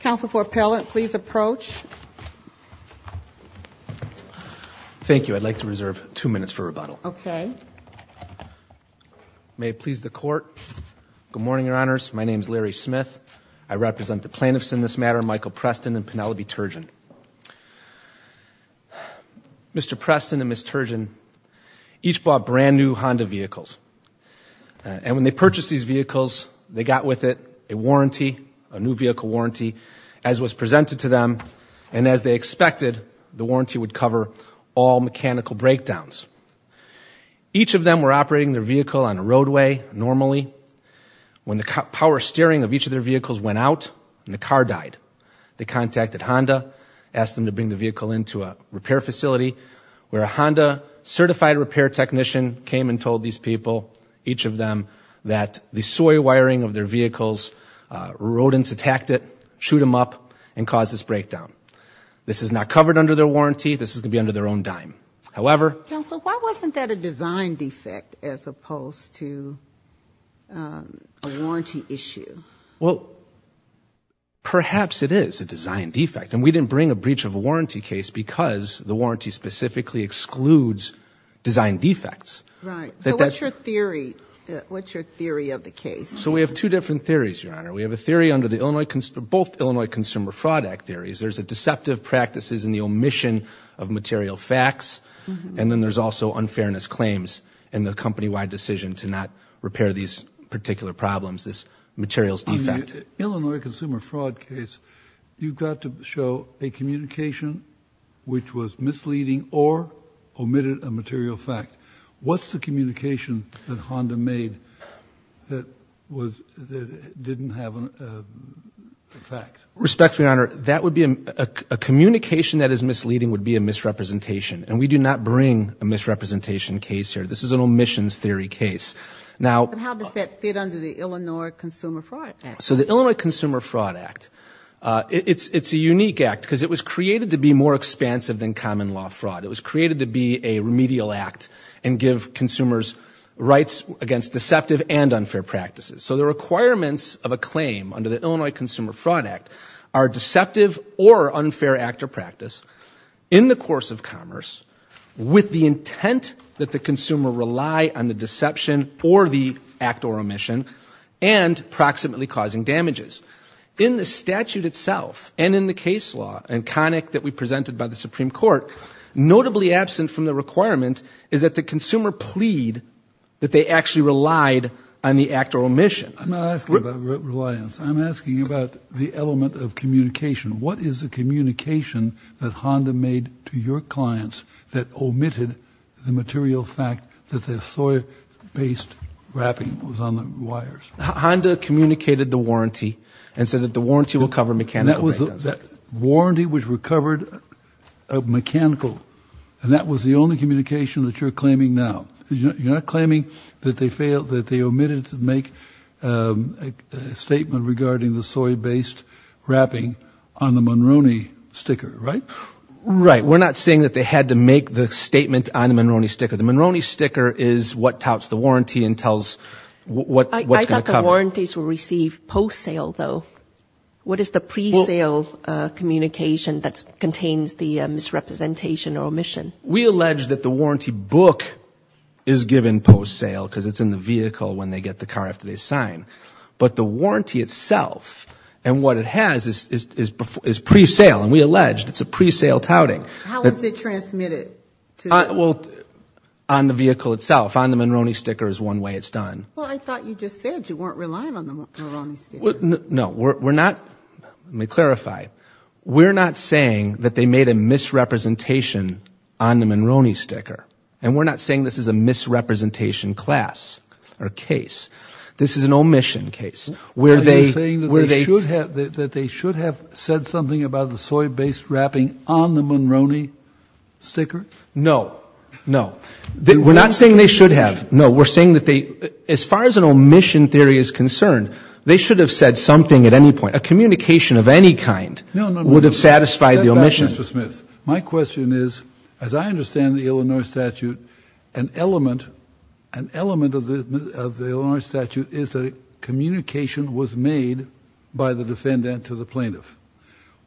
Council for pellet please approach Thank you, I'd like to reserve two minutes for rebuttal, okay May please the court good morning your honors. My name is Larry Smith. I represent the plaintiffs in this matter Michael Preston and Penelope Turgeon Mr. Preston and Miss Turgeon each bought brand new Honda vehicles And when they purchased these vehicles they got with it a warranty a new vehicle warranty as was presented to them and As they expected the warranty would cover all mechanical breakdowns Each of them were operating their vehicle on a roadway normally When the power steering of each of their vehicles went out and the car died They contacted Honda asked them to bring the vehicle into a repair facility where a Honda Certified repair technician came and told these people each of them that the soy wiring of their vehicles Rodents attacked it shoot him up and caused this breakdown. This is not covered under their warranty This is gonna be under their own dime. However, so why wasn't that a design defect as opposed to? Warranty issue well Perhaps it is a design defect and we didn't bring a breach of a warranty case because the warranty specifically excludes Design defects, right? So what's your theory? What's your theory of the case? So we have two different theories your honor We have a theory under the Illinois consider both, Illinois Consumer Fraud Act theories There's a deceptive practices in the omission of material facts And then there's also unfairness claims and the company-wide decision to not repair these particular problems this materials defect Illinois Consumer Fraud case you've got to show a communication which was misleading or Omitted a material fact. What's the communication that Honda made? that was didn't have an Respect for your honor. That would be a Communication that is misleading would be a misrepresentation and we do not bring a misrepresentation case here This is an omissions theory case now Under the Illinois Consumer Fraud Act, so the Illinois Consumer Fraud Act It's it's a unique act because it was created to be more expansive than common law fraud It was created to be a remedial act and give consumers rights against deceptive and unfair practices So the requirements of a claim under the Illinois Consumer Fraud Act are deceptive or unfair actor practice in the course of commerce With the intent that the consumer rely on the deception or the act or omission and Approximately causing damages in the statute itself and in the case law and conic that we presented by the Supreme Court Notably absent from the requirement is that the consumer plead that they actually relied on the act or omission I'm asking about the element of communication. What is the communication that Honda made to your clients? omitted the material fact that the soy based Wrapping was on the wires Honda communicated the warranty and said that the warranty will cover me can that was that? warranty was recovered a Mechanical and that was the only communication that you're claiming. Now, you're not claiming that they failed that they omitted to make Statement regarding the soy based Wrapping on the Munro knee sticker, right? Right. We're not saying that they had to make the statement on the Munro knee sticker The Munro knee sticker is what touts the warranty and tells what? Warranties will receive post sale though. What is the pre-sale? Communication that contains the misrepresentation or omission. We allege that the warranty book is Given post sale because it's in the vehicle when they get the car after they sign But the warranty itself and what it has is Pre-sale and we alleged it's a pre-sale touting Well on the vehicle itself on the Munro knee sticker is one way it's done No, we're not let me clarify We're not saying that they made a misrepresentation on the Munro knee sticker and we're not saying this is a misrepresentation Class or case This is an omission case where they were they should have that they should have said something about the soy based wrapping on the Munro knee Sticker no, no, we're not saying they should have no we're saying that they as far as an omission theory is concerned They should have said something at any point a communication of any kind would have satisfied the omission my question is as I understand the Illinois statute an Element an element of the Illinois statute is that it communication was made by the defendant to the plaintiff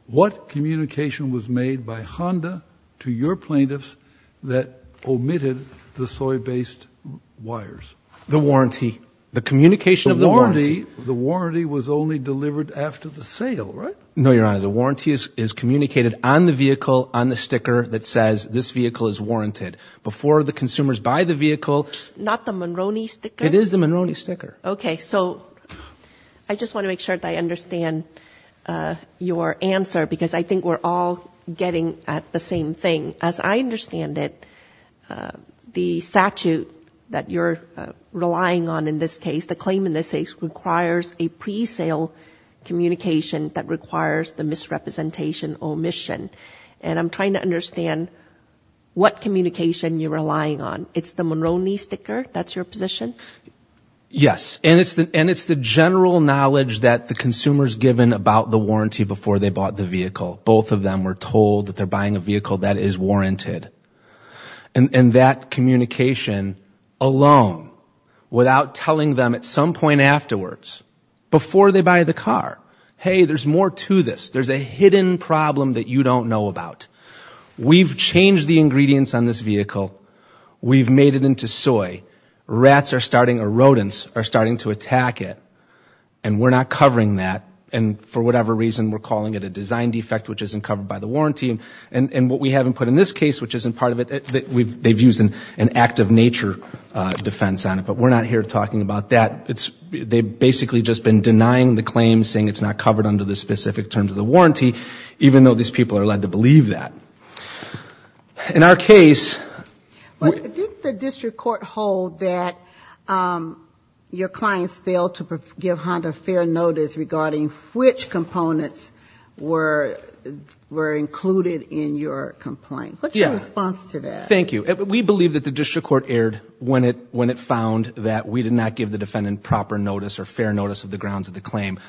What communication was made by Honda to your plaintiffs that omitted the soy based? wires the warranty the communication of the The warranty was only delivered after the sale, right? No, your honor The warranty is is communicated on the vehicle on the sticker that says this vehicle is warranted Before the consumers buy the vehicle not the Munro knee sticker. It is the Munro knee sticker. Okay, so I Just want to make sure that I understand Your answer because I think we're all getting at the same thing as I understand it The statute that you're relying on in this case the claim in this case requires a pre-sale Communication that requires the misrepresentation omission, and I'm trying to understand What communication you're relying on it's the Munro knee sticker, that's your position Yes And it's the and it's the general knowledge that the consumers given about the warranty before they bought the vehicle Both of them were told that they're buying a vehicle that is warranted and and that communication alone Without telling them at some point afterwards Before they buy the car. Hey, there's more to this. There's a hidden problem that you don't know about We've changed the ingredients on this vehicle we've made it into soy rats are starting a rodents are starting to attack it and We're not covering that and for whatever reason we're calling it a design defect Which isn't covered by the warranty and and what we haven't put in this case, which isn't part of it We've they've used an an act of nature Defense on it, but we're not here talking about that It's they basically just been denying the claim saying it's not covered under the specific terms of the warranty Even though these people are led to believe that in our case the district court hold that Your clients fail to give Honda fair notice regarding which components were Were included in your complaint. What's your response to that? Thank you We believe that the district court aired When it when it found that we did not give the defendant proper notice or fair notice of the grounds of the claim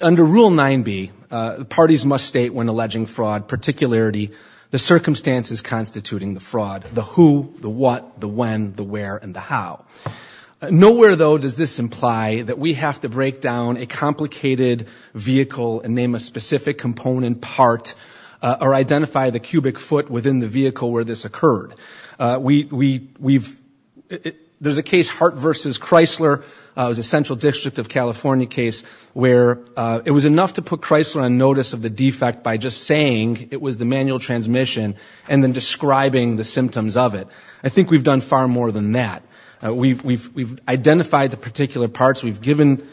Under rule 9b parties must state when alleging fraud particularity the Circumstances constituting the fraud the who the what the when the where and the how? Nowhere, though does this imply that we have to break down a complicated vehicle and name a specific component part Or identify the cubic foot within the vehicle where this occurred. We we've There's a case Hart versus Chrysler It was a Central District of California case where it was enough to put Chrysler on notice of the defect by just saying it was the manual transmission and then Describing the symptoms of it. I think we've done far more than that. We've identified the particular parts. We've given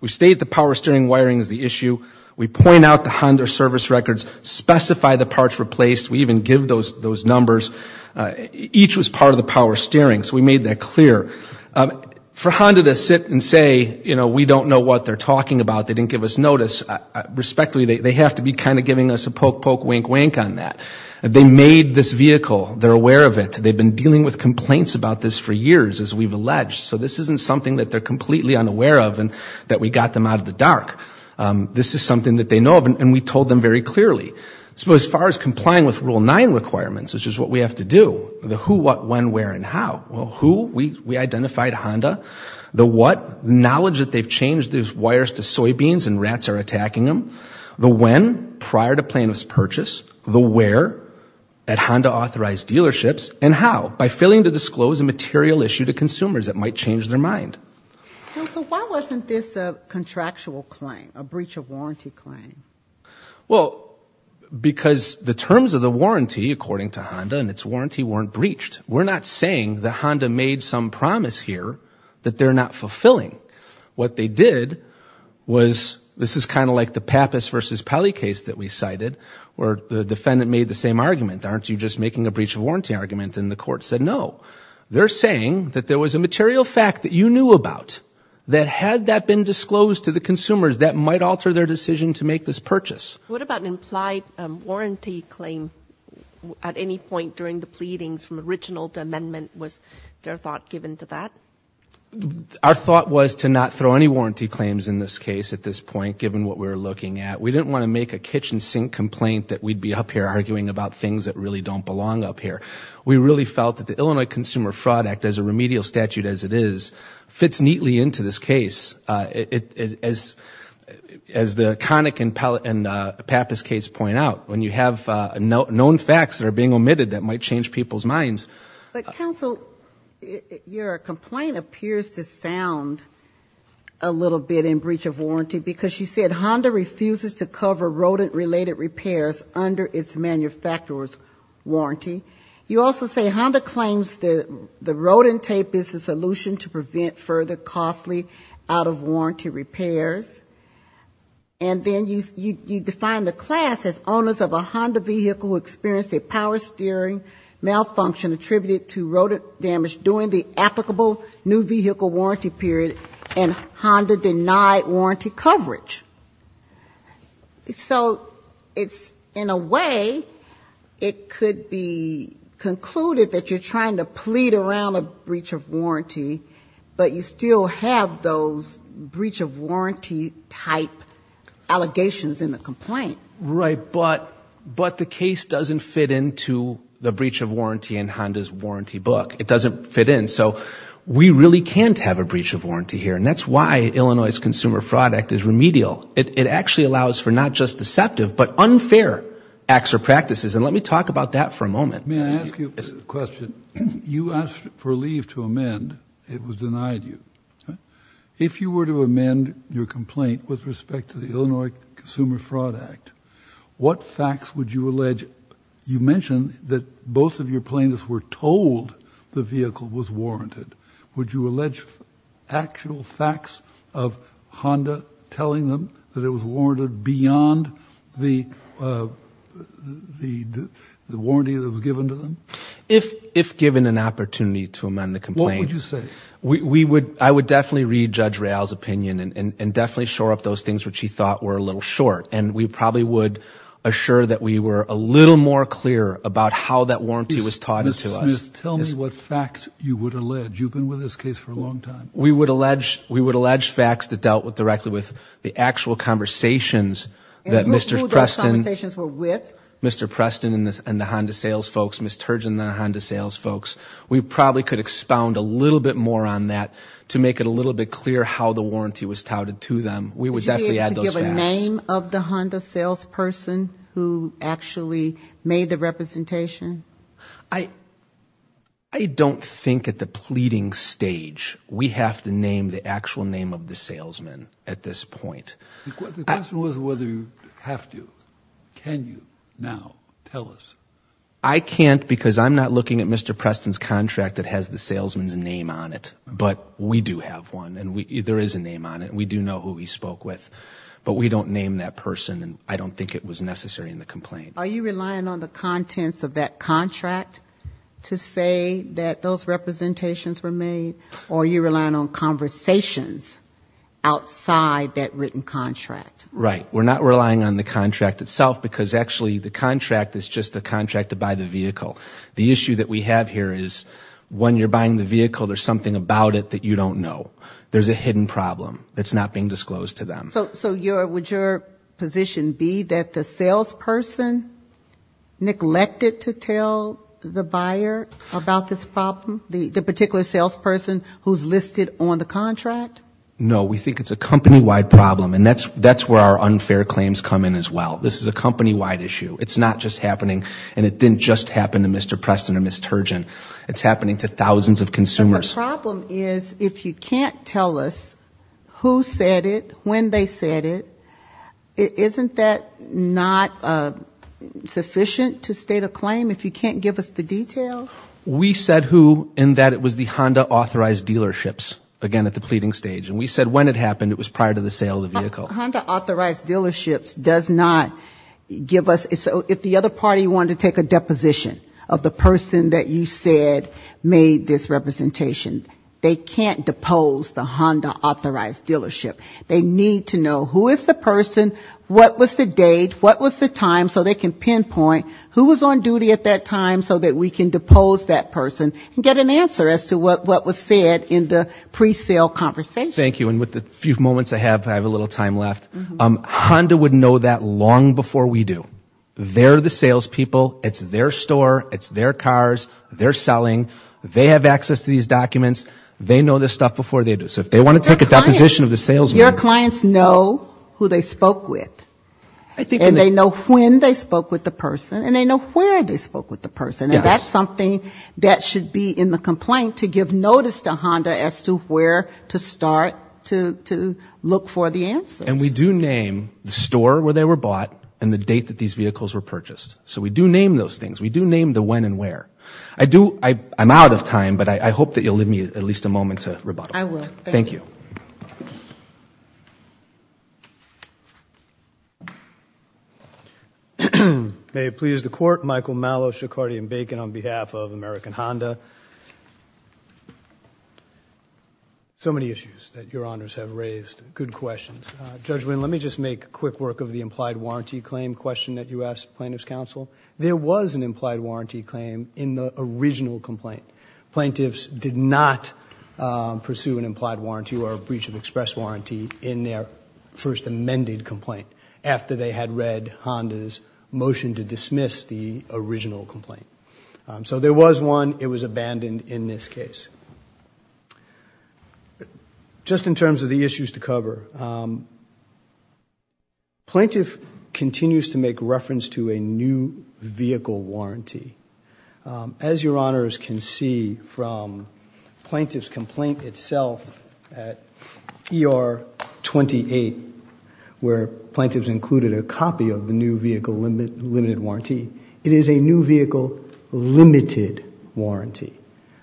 We stayed the power steering wiring is the issue. We point out the Honda service records specify the parts replaced We even give those those numbers Each was part of the power steering. So we made that clear For Honda to sit and say, you know, we don't know what they're talking about. They didn't give us notice Respectfully, they have to be kind of giving us a poke poke wink wink on that. They made this vehicle. They're aware of it They've been dealing with complaints about this for years as we've alleged So this isn't something that they're completely unaware of and that we got them out of the dark This is something that they know of and we told them very clearly So as far as complying with rule 9 requirements Which is what we have to do the who what when where and how well who we we identified Honda The what knowledge that they've changed these wires to soybeans and rats are attacking them the when prior to plaintiffs purchase the where At Honda authorized dealerships and how by failing to disclose a material issue to consumers that might change their mind So why wasn't this a contractual claim a breach of warranty claim? Well Because the terms of the warranty according to Honda and its warranty weren't breached We're not saying that Honda made some promise here that they're not fulfilling what they did Was this is kind of like the Pappas versus Peli case that we cited or the defendant made the same argument Aren't you just making a breach of warranty argument and the court said no They're saying that there was a material fact that you knew about That had that been disclosed to the consumers that might alter their decision to make this purchase what about an implied warranty claim At any point during the pleadings from original to amendment was their thought given to that Our thought was to not throw any warranty claims in this case at this point given what we were looking at We didn't want to make a kitchen sink complaint that we'd be up here arguing about things that really don't belong up here We really felt that the Illinois Consumer Fraud Act as a remedial statute as it is fits neatly into this case it is as the conic and pellet and Pappas case point out when you have no known facts that are being omitted that might change people's minds, but counsel your complaint appears to sound a Little bit in breach of warranty because she said Honda refuses to cover rodent related repairs under its manufacturers Warranty you also say Honda claims that the rodent tape is the solution to prevent further costly out of warranty repairs and Then you you define the class as owners of a Honda vehicle experienced a power steering malfunction attributed to road damage during the applicable new vehicle warranty period and Honda denied warranty coverage So it's in a way it could be Concluded that you're trying to plead around a breach of warranty, but you still have those breach of warranty type Allegations in the complaint, right? But but the case doesn't fit into the breach of warranty and Honda's warranty book It doesn't fit in so we really can't have a breach of warranty here And that's why Illinois's Consumer Fraud Act is remedial it actually allows for not just deceptive but unfair Acts or practices and let me talk about that for a moment May I ask you a question you asked for leave to amend it was denied you If you were to amend your complaint with respect to the Illinois Consumer Fraud Act What facts would you allege you mentioned that both of your plaintiffs were told the vehicle was warranted? would you allege actual facts of Honda telling them that it was warranted beyond the The the warranty that was given to them if if given an opportunity to amend the complaint Would you say we would I would definitely read judge rails opinion and definitely shore up those things Which he thought were a little short and we probably would Assure that we were a little more clear about how that warranty was taught into us Tell me what facts you would allege you've been with this case for a long time We would allege we would allege facts that dealt with directly with the actual conversations that mr. Preston stations were with mr. Preston in this and the Honda sales folks miss turgeon than a Honda sales folks We probably could expound a little bit more on that to make it a little bit clear how the warranty was touted to them We would definitely have a name of the Honda salesperson who actually made the representation. I I Don't think at the pleading stage. We have to name the actual name of the salesman at this point Was whether you have to Can you now tell us I can't because I'm not looking at mr Preston's contract that has the salesman's name on it But we do have one and we either is a name on it We do know who he spoke with but we don't name that person and I don't think it was necessary in the complaint Are you relying on the contents of that contract? To say that those representations were made or you're relying on conversations Outside that written contract, right? we're not relying on the contract itself because actually the contract is just a contract to buy the vehicle the issue that we have here is When you're buying the vehicle, there's something about it that you don't know. There's a hidden problem. It's not being disclosed to them So so your would your position be that the salesperson? Neglected to tell the buyer about this problem the the particular salesperson who's listed on the contract No, we think it's a company-wide problem. And that's that's where our unfair claims come in as well. This is a company-wide issue It's not just happening and it didn't just happen to mr. Preston or miss Turgeon. It's happening to thousands of consumers The problem is if you can't tell us Who said it when they said it? Isn't that not? Sufficient to state a claim if you can't give us the details We said who in that it was the Honda authorized dealerships again at the pleading stage and we said when it happened It was prior to the sale of the vehicle dealerships does not Give us so if the other party wanted to take a deposition of the person that you said made this representation They can't depose the Honda authorized dealership. They need to know who is the person? What was the date? What was the time so they can pinpoint who was on duty at that time so that we can depose that person and get an Answer as to what what was said in the pre-sale conversation. Thank you. And with the few moments I have I have a little time left Honda would know that long before we do. They're the salespeople. It's their store. It's their cars. They're selling They have access to these documents They know this stuff before they do so if they want to take a deposition of the salesman your clients know who they spoke with I think they know when they spoke with the person and they know where they spoke with the person That's something that should be in the complaint to give notice to Honda as to where to start to Look for the answer and we do name the store where they were bought and the date that these vehicles were purchased So we do name those things we do name the when and where I do I I'm out of time, but I hope that you'll leave me at least a moment to rebuttal. Thank you Mm-hmm, may it please the court Michael Malo Shikhari and bacon on behalf of American Honda So many issues that your honors have raised good questions judgment Let me just make quick work of the implied warranty claim question that you asked plaintiffs counsel There was an implied warranty claim in the original complaint plaintiffs did not Pursue an implied warranty or a breach of express warranty in their first amended complaint after they had read Honda's motion to dismiss the original complaint. So there was one it was abandoned in this case Just in terms of the issues to cover Plaintiff continues to make reference to a new vehicle warranty as your honors can see from Plaintiff's complaint itself at ER 28 Where plaintiffs included a copy of the new vehicle limit limited warranty. It is a new vehicle limited warranty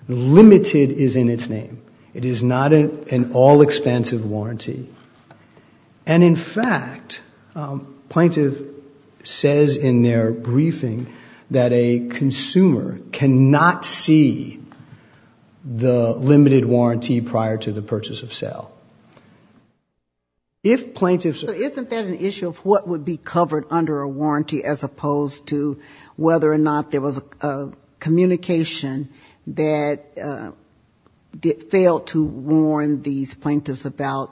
Limited is in its name. It is not an all-expansive warranty and in fact plaintiff says in their briefing that a consumer cannot see The limited warranty prior to the purchase of sale If plaintiffs isn't that an issue of what would be covered under a warranty as opposed to whether or not there was a communication that It failed to warn these plaintiffs about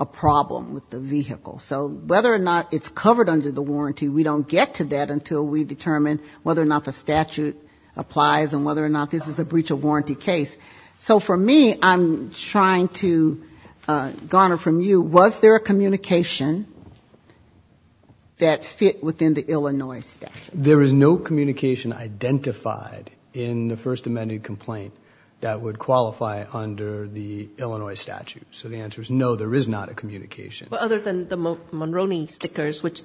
a problem with the vehicle So whether or not it's covered under the warranty We don't get to that until we determine whether or not the statute Applies and whether or not this is a breach of warranty case. So for me, I'm trying to Garner from you. Was there a communication? That fit within the Illinois statute there is no communication Identified in the first amended complaint that would qualify under the Illinois statute So the answer is no there is not a communication other than the Monroney stickers Would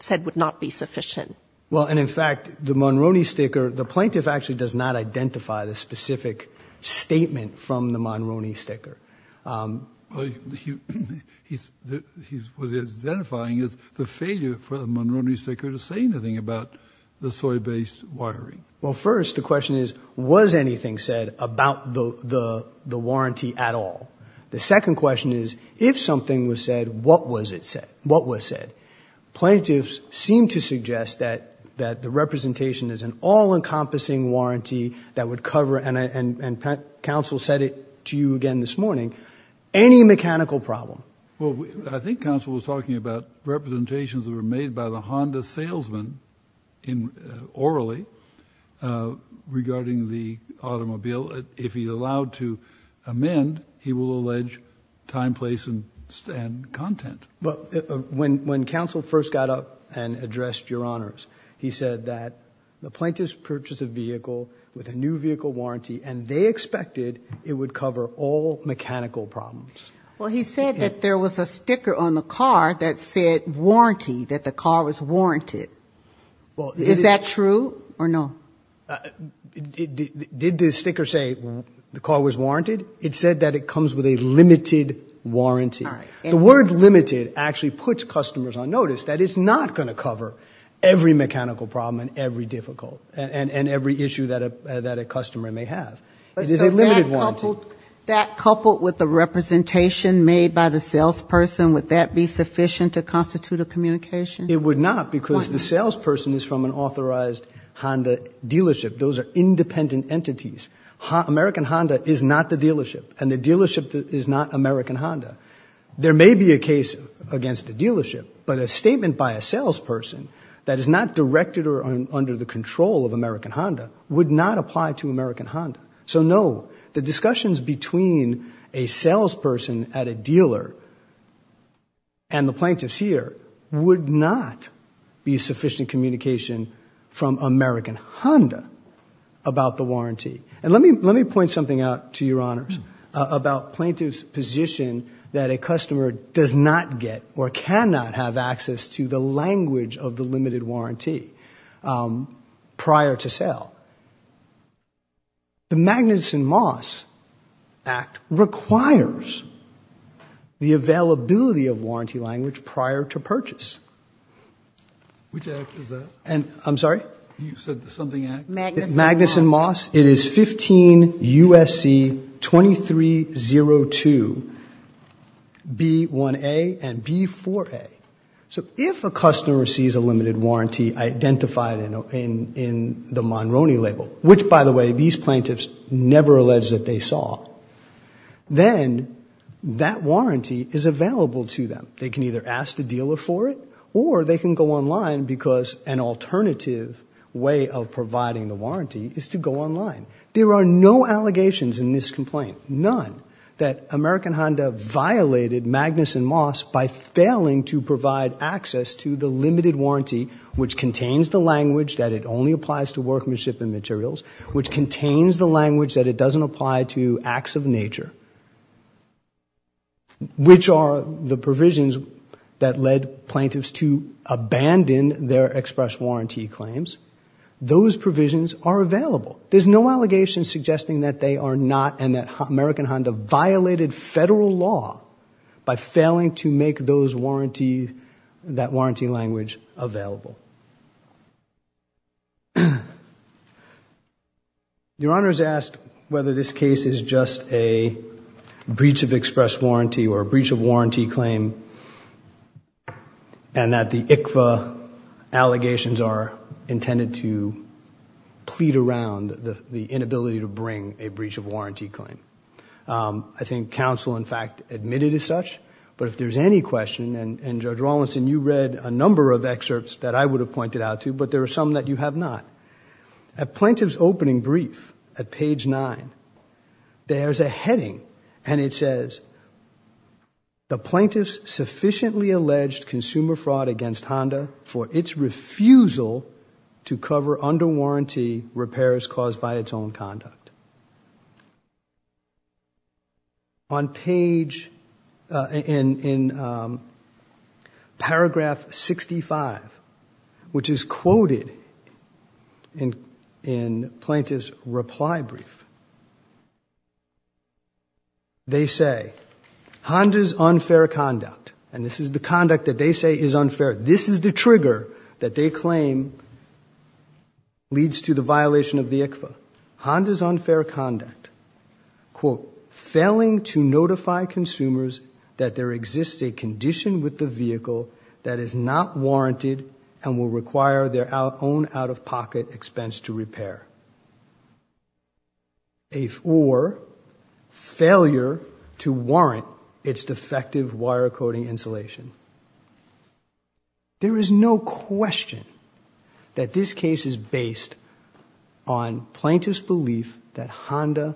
said would not be sufficient well And in fact the Monroney sticker the plaintiff actually does not identify the specific statement from the Monroney sticker Identifying is the failure for the Monroney sticker to say anything about the soy based wiring Well first the question is was anything said about the the the warranty at all The second question is if something was said what was it said what was said plaintiffs seem to suggest that that the representation is an all-encompassing warranty that would cover and Council said it to you again this morning any mechanical problem. Well, I think council was talking about Representations that were made by the Honda salesman in orally Regarding the automobile if he allowed to amend he will allege time place and stand content But when when council first got up and addressed your honors He said that the plaintiffs purchase a vehicle with a new vehicle warranty and they expected it would cover all Mechanical problems. Well, he said that there was a sticker on the car that said warranty that the car was warranted Is that true or no Did this sticker say the car was warranted it said that it comes with a limited Warranty the word limited actually puts customers on notice that it's not going to cover Every mechanical problem and every difficult and and every issue that a that a customer may have it is a limited one that coupled with the Representation made by the salesperson would that be sufficient to constitute a communication? It would not because the salesperson is from an authorized Honda dealership. Those are independent entities American Honda is not the dealership and the dealership that is not American Honda There may be a case against the dealership But a statement by a salesperson that is not directed or under the control of American Honda would not apply to American Honda. So no the discussions between a salesperson at a dealer and Plaintiffs here would not be sufficient communication from American Honda About the warranty and let me let me point something out to your honors About plaintiffs position that a customer does not get or cannot have access to the language of the limited warranty prior to sale The Magnuson Moss Act requires The availability of warranty language prior to purchase Which is that and I'm sorry Magnuson Moss it is 15 USC 2302 B1 a and B4 a so if a customer receives a limited warranty Identified in in in the Monroney label, which by the way, these plaintiffs never alleged that they saw Then That warranty is available to them they can either ask the dealer for it or they can go online because an Alternative way of providing the warranty is to go online There are no allegations in this complaint none that American Honda violated Magnuson Moss by failing to provide access to the limited warranty Which contains the language that it only applies to workmanship and materials? Which contains the language that it doesn't apply to acts of nature? Which are the provisions that led plaintiffs to Abandon their express warranty claims those provisions are available There's no allegations suggesting that they are not and that American Honda violated federal law By failing to make those warranty that warranty language available Your honor's asked whether this case is just a breach of express warranty or a breach of warranty claim and That the ICFA allegations are intended to Plead around the the inability to bring a breach of warranty claim I think counsel in fact admitted as such But if there's any question and and judge Rawlinson you read a number of excerpts that I would have pointed out to but there are Some that you have not At plaintiffs opening brief at page 9 there's a heading and it says the plaintiffs sufficiently alleged consumer fraud against Honda for its refusal to Cover under warranty repairs caused by its own conduct On page in Paragraph 65 which is quoted in plaintiffs reply brief They say Honda's unfair conduct and this is the conduct that they say is unfair. This is the trigger that they claim Leads to the violation of the ICFA Honda's unfair conduct quote failing to notify consumers that there exists a condition with the vehicle that is not Out-of-pocket expense to repair If or failure to warrant its defective wire coding insulation There is no question that this case is based on plaintiffs belief that Honda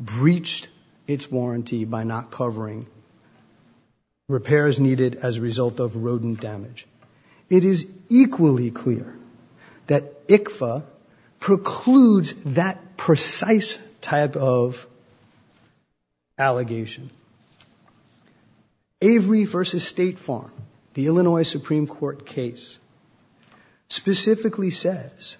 Breached its warranty by not covering Repairs needed as a result of rodent damage. It is equally clear that ICFA precludes that precise type of Allegation Avery versus State Farm the Illinois Supreme Court case Specifically says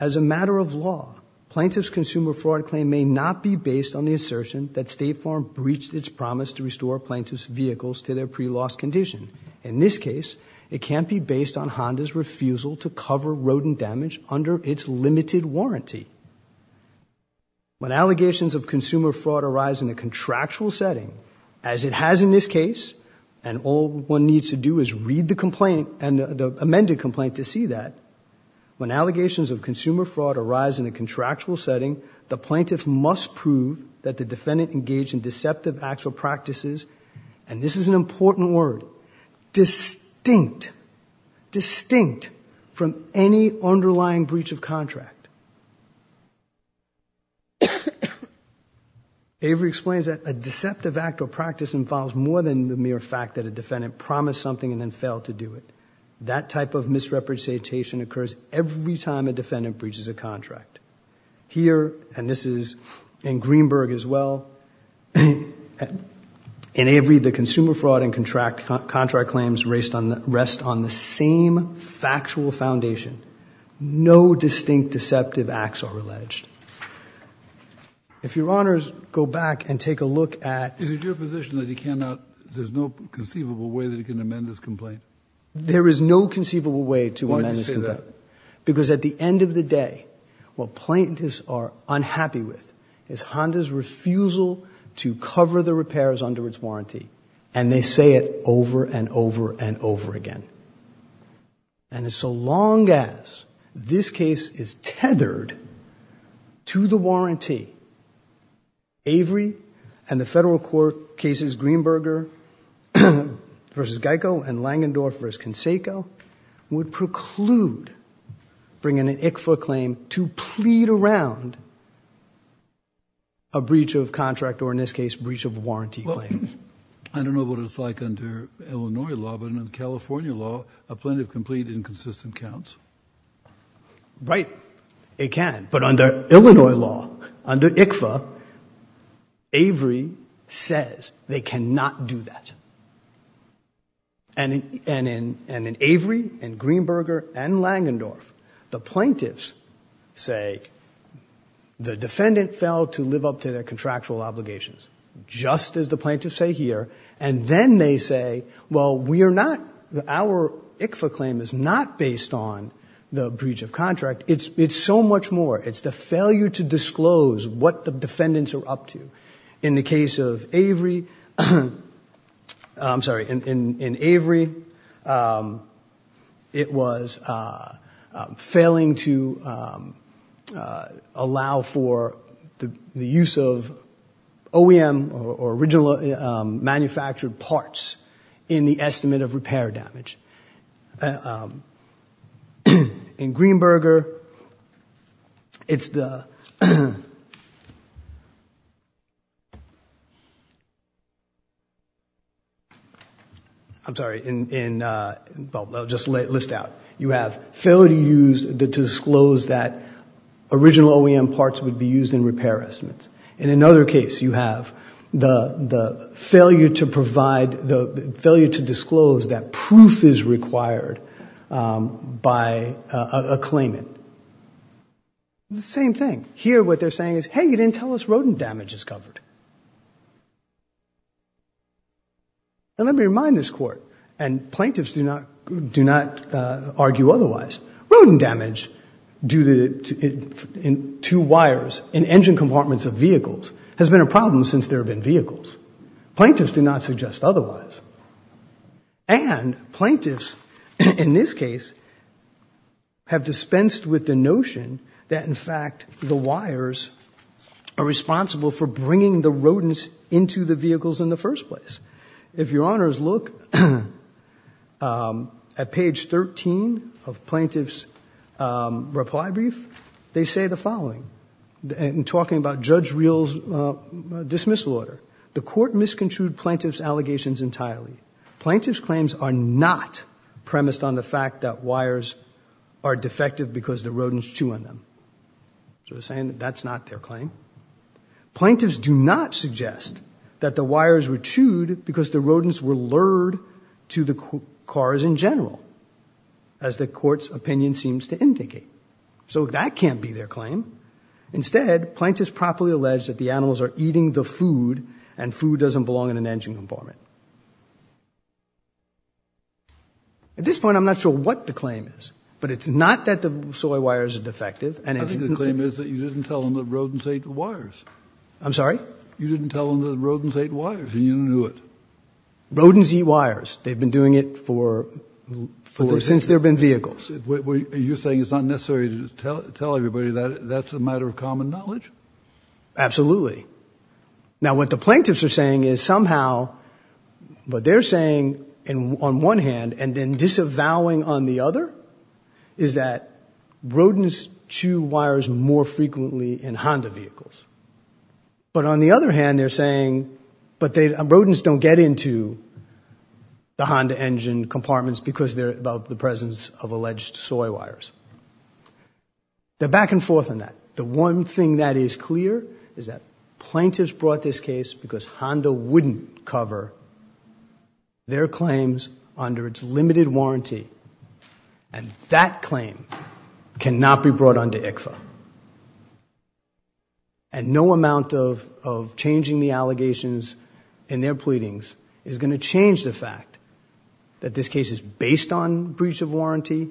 as a matter of law Plaintiffs consumer fraud claim may not be based on the assertion that State Farm breached its promise to restore plaintiffs Vehicles to their pre-loss condition in this case It can't be based on Honda's refusal to cover rodent damage under its limited warranty When allegations of consumer fraud arise in a contractual setting as it has in this case And all one needs to do is read the complaint and the amended complaint to see that when allegations of consumer fraud arise in a contractual setting the plaintiffs must prove that the defendant engaged in deceptive actual practices and This is an important word distinct distinct from any underlying breach of contract Avery explains that a deceptive act or practice involves more than the mere fact that a defendant promised something and then failed to do it That type of misrepresentation occurs every time a defendant breaches a contract Here and this is in Greenberg as well In Avery the consumer fraud and contract contract claims raced on the rest on the same factual foundation No distinct deceptive acts are alleged If your honors go back and take a look at There's no conceivable way that you can amend this complaint There is no conceivable way to one that because at the end of the day What plaintiffs are unhappy with is Honda's refusal to cover the repairs under its warranty and they say it over and over and over again and It's so long as this case is tethered to the warranty Avery and the federal court cases Greenberger versus Geico and Langendorf versus Conseco would preclude Bring in an ICFA claim to plead around a Breach of contract or in this case breach of warranty claims I don't know what it's like under Illinois law, but in California law a plaintiff complete inconsistent counts Right it can but under Illinois law under ICFA Avery says they cannot do that and And in and in Avery and Greenberger and Langendorf the plaintiffs say The defendant failed to live up to their contractual obligations Just as the plaintiffs say here, and then they say well We are not the our ICFA claim is not based on the breach of contract. It's it's so much more It's the failure to disclose what the defendants are up to in the case of Avery I'm sorry in Avery It was failing to Allow for the use of OEM or original manufactured parts in the estimate of repair damage In Greenberger, it's the I'm Sorry in Just list out you have failure to use that to disclose that original OEM parts would be used in repair estimates in another case you have the Failure to provide the failure to disclose that proof is required by a claimant The same thing here what they're saying is hey, you didn't tell us rodent damage is covered And let me remind this court and plaintiffs do not do not argue otherwise rodent damage due to In two wires in engine compartments of vehicles has been a problem since there have been vehicles plaintiffs do not suggest otherwise and Plaintiffs in this case Have dispensed with the notion that in fact the wires Are responsible for bringing the rodents into the vehicles in the first place if your honors look At page 13 of plaintiffs Reply brief they say the following and talking about judge reels Dismissal order the court misconstrued plaintiffs allegations entirely Plaintiffs claims are not premised on the fact that wires are defective because the rodents chew on them So we're saying that's not their claim Plaintiffs do not suggest that the wires were chewed because the rodents were lured to the cars in general as The courts opinion seems to indicate so that can't be their claim Instead plaintiffs properly alleged that the animals are eating the food and food doesn't belong in an engine compartment At this point I'm not sure what the claim is But it's not that the soy wires are defective and it's the claim is that you didn't tell them that rodents ate wires I'm sorry. You didn't tell them that rodents ate wires and you knew it Rodents eat wires. They've been doing it for Since there've been vehicles. What are you saying? It's not necessary to tell everybody that that's a matter of common knowledge absolutely Now what the plaintiffs are saying is somehow But they're saying and on one hand and then disavowing on the other Is that rodents chew wires more frequently in Honda vehicles? But on the other hand, they're saying but they rodents don't get into The Honda engine compartments because they're about the presence of alleged soy wires They're back and forth on that. The one thing that is clear is that plaintiffs brought this case because Honda wouldn't cover their claims under its limited warranty and that claim cannot be brought on to ICFA and No amount of changing the allegations in their pleadings is going to change the fact that this case is based on breach of warranty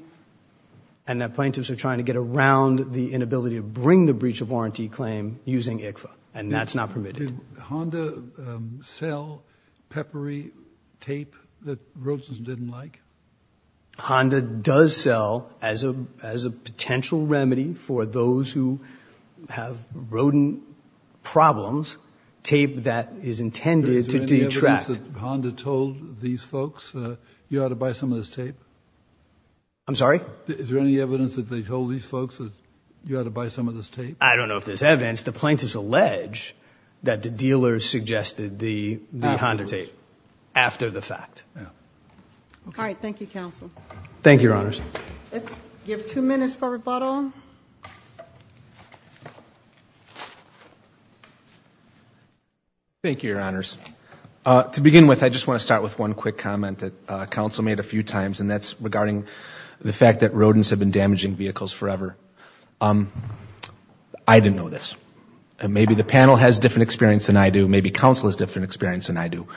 and That plaintiffs are trying to get around the inability to bring the breach of warranty claim using ICFA and that's not permitted sell peppery tape that roses didn't like Honda does sell as a as a potential remedy for those who have rodent Problems tape that is intended to detract Honda told these folks you ought to buy some of this tape I'm sorry. Is there any evidence that they told these folks that you ought to buy some of this tape? I don't know if there's evidence the plaintiffs allege that the dealers suggested the Honda tape after the fact All right, thank you counsel, thank your honors Thank you your honors To begin with I just want to start with one quick comment that council made a few times and that's regarding The fact that rodents have been damaging vehicles forever. Um, I Didn't know this and maybe the panel has different experience than I do Maybe counsel is different experience than I do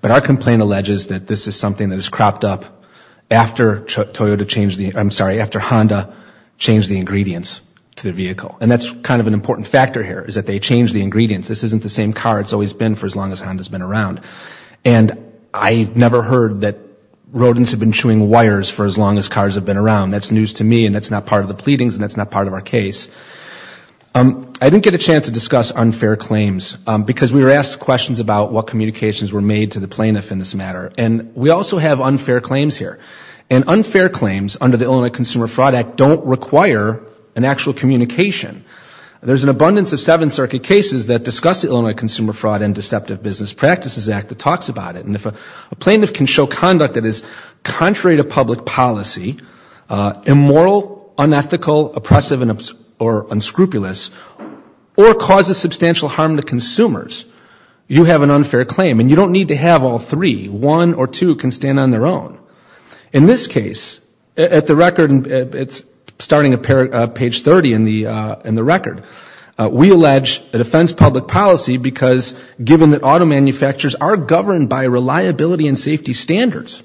but our complaint alleges that this is something that is cropped up After Toyota changed the I'm sorry after Honda Changed the ingredients to the vehicle and that's kind of an important factor here is that they change the ingredients This isn't the same car. It's always been for as long as Honda's been around and I've never heard that Rodents have been chewing wires for as long as cars have been around that's news to me and that's not part of the pleadings and That's not part of our case Um, I didn't get a chance to discuss unfair claims because we were asked questions about what communications were made to the plaintiff in this matter And we also have unfair claims here and unfair claims under the Illinois Consumer Fraud Act don't require an actual communication There's an abundance of Seventh Circuit cases that discuss the Illinois Consumer Fraud and Deceptive Business Practices Act that talks about it And if a plaintiff can show conduct that is contrary to public policy Immoral unethical oppressive and or unscrupulous or causes substantial harm to consumers You have an unfair claim and you don't need to have all three one or two can stand on their own in This case at the record and it's starting a pair of page 30 in the in the record We allege a defense public policy because given that auto manufacturers are governed by reliability and safety standards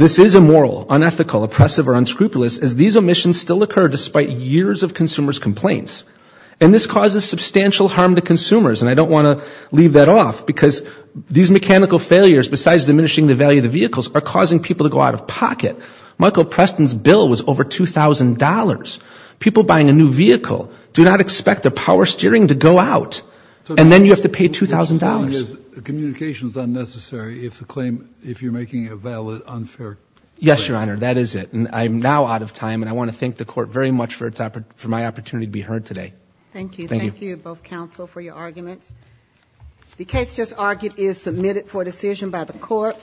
This is a moral unethical oppressive or unscrupulous as these omissions still occur despite years of consumers complaints and this causes substantial harm to consumers and I don't want to leave that off because These mechanical failures besides diminishing the value of the vehicles are causing people to go out of pocket Michael Preston's bill was over $2,000 people buying a new vehicle. Do not expect the power steering to go out And then you have to pay $2,000 Communications unnecessary if the claim if you're making a valid unfair. Yes, your honor That is it and I'm now out of time and I want to thank the court very much for its effort for my opportunity To be heard today. Thank you. Thank you both counsel for your arguments The case just argued is submitted for decision by the court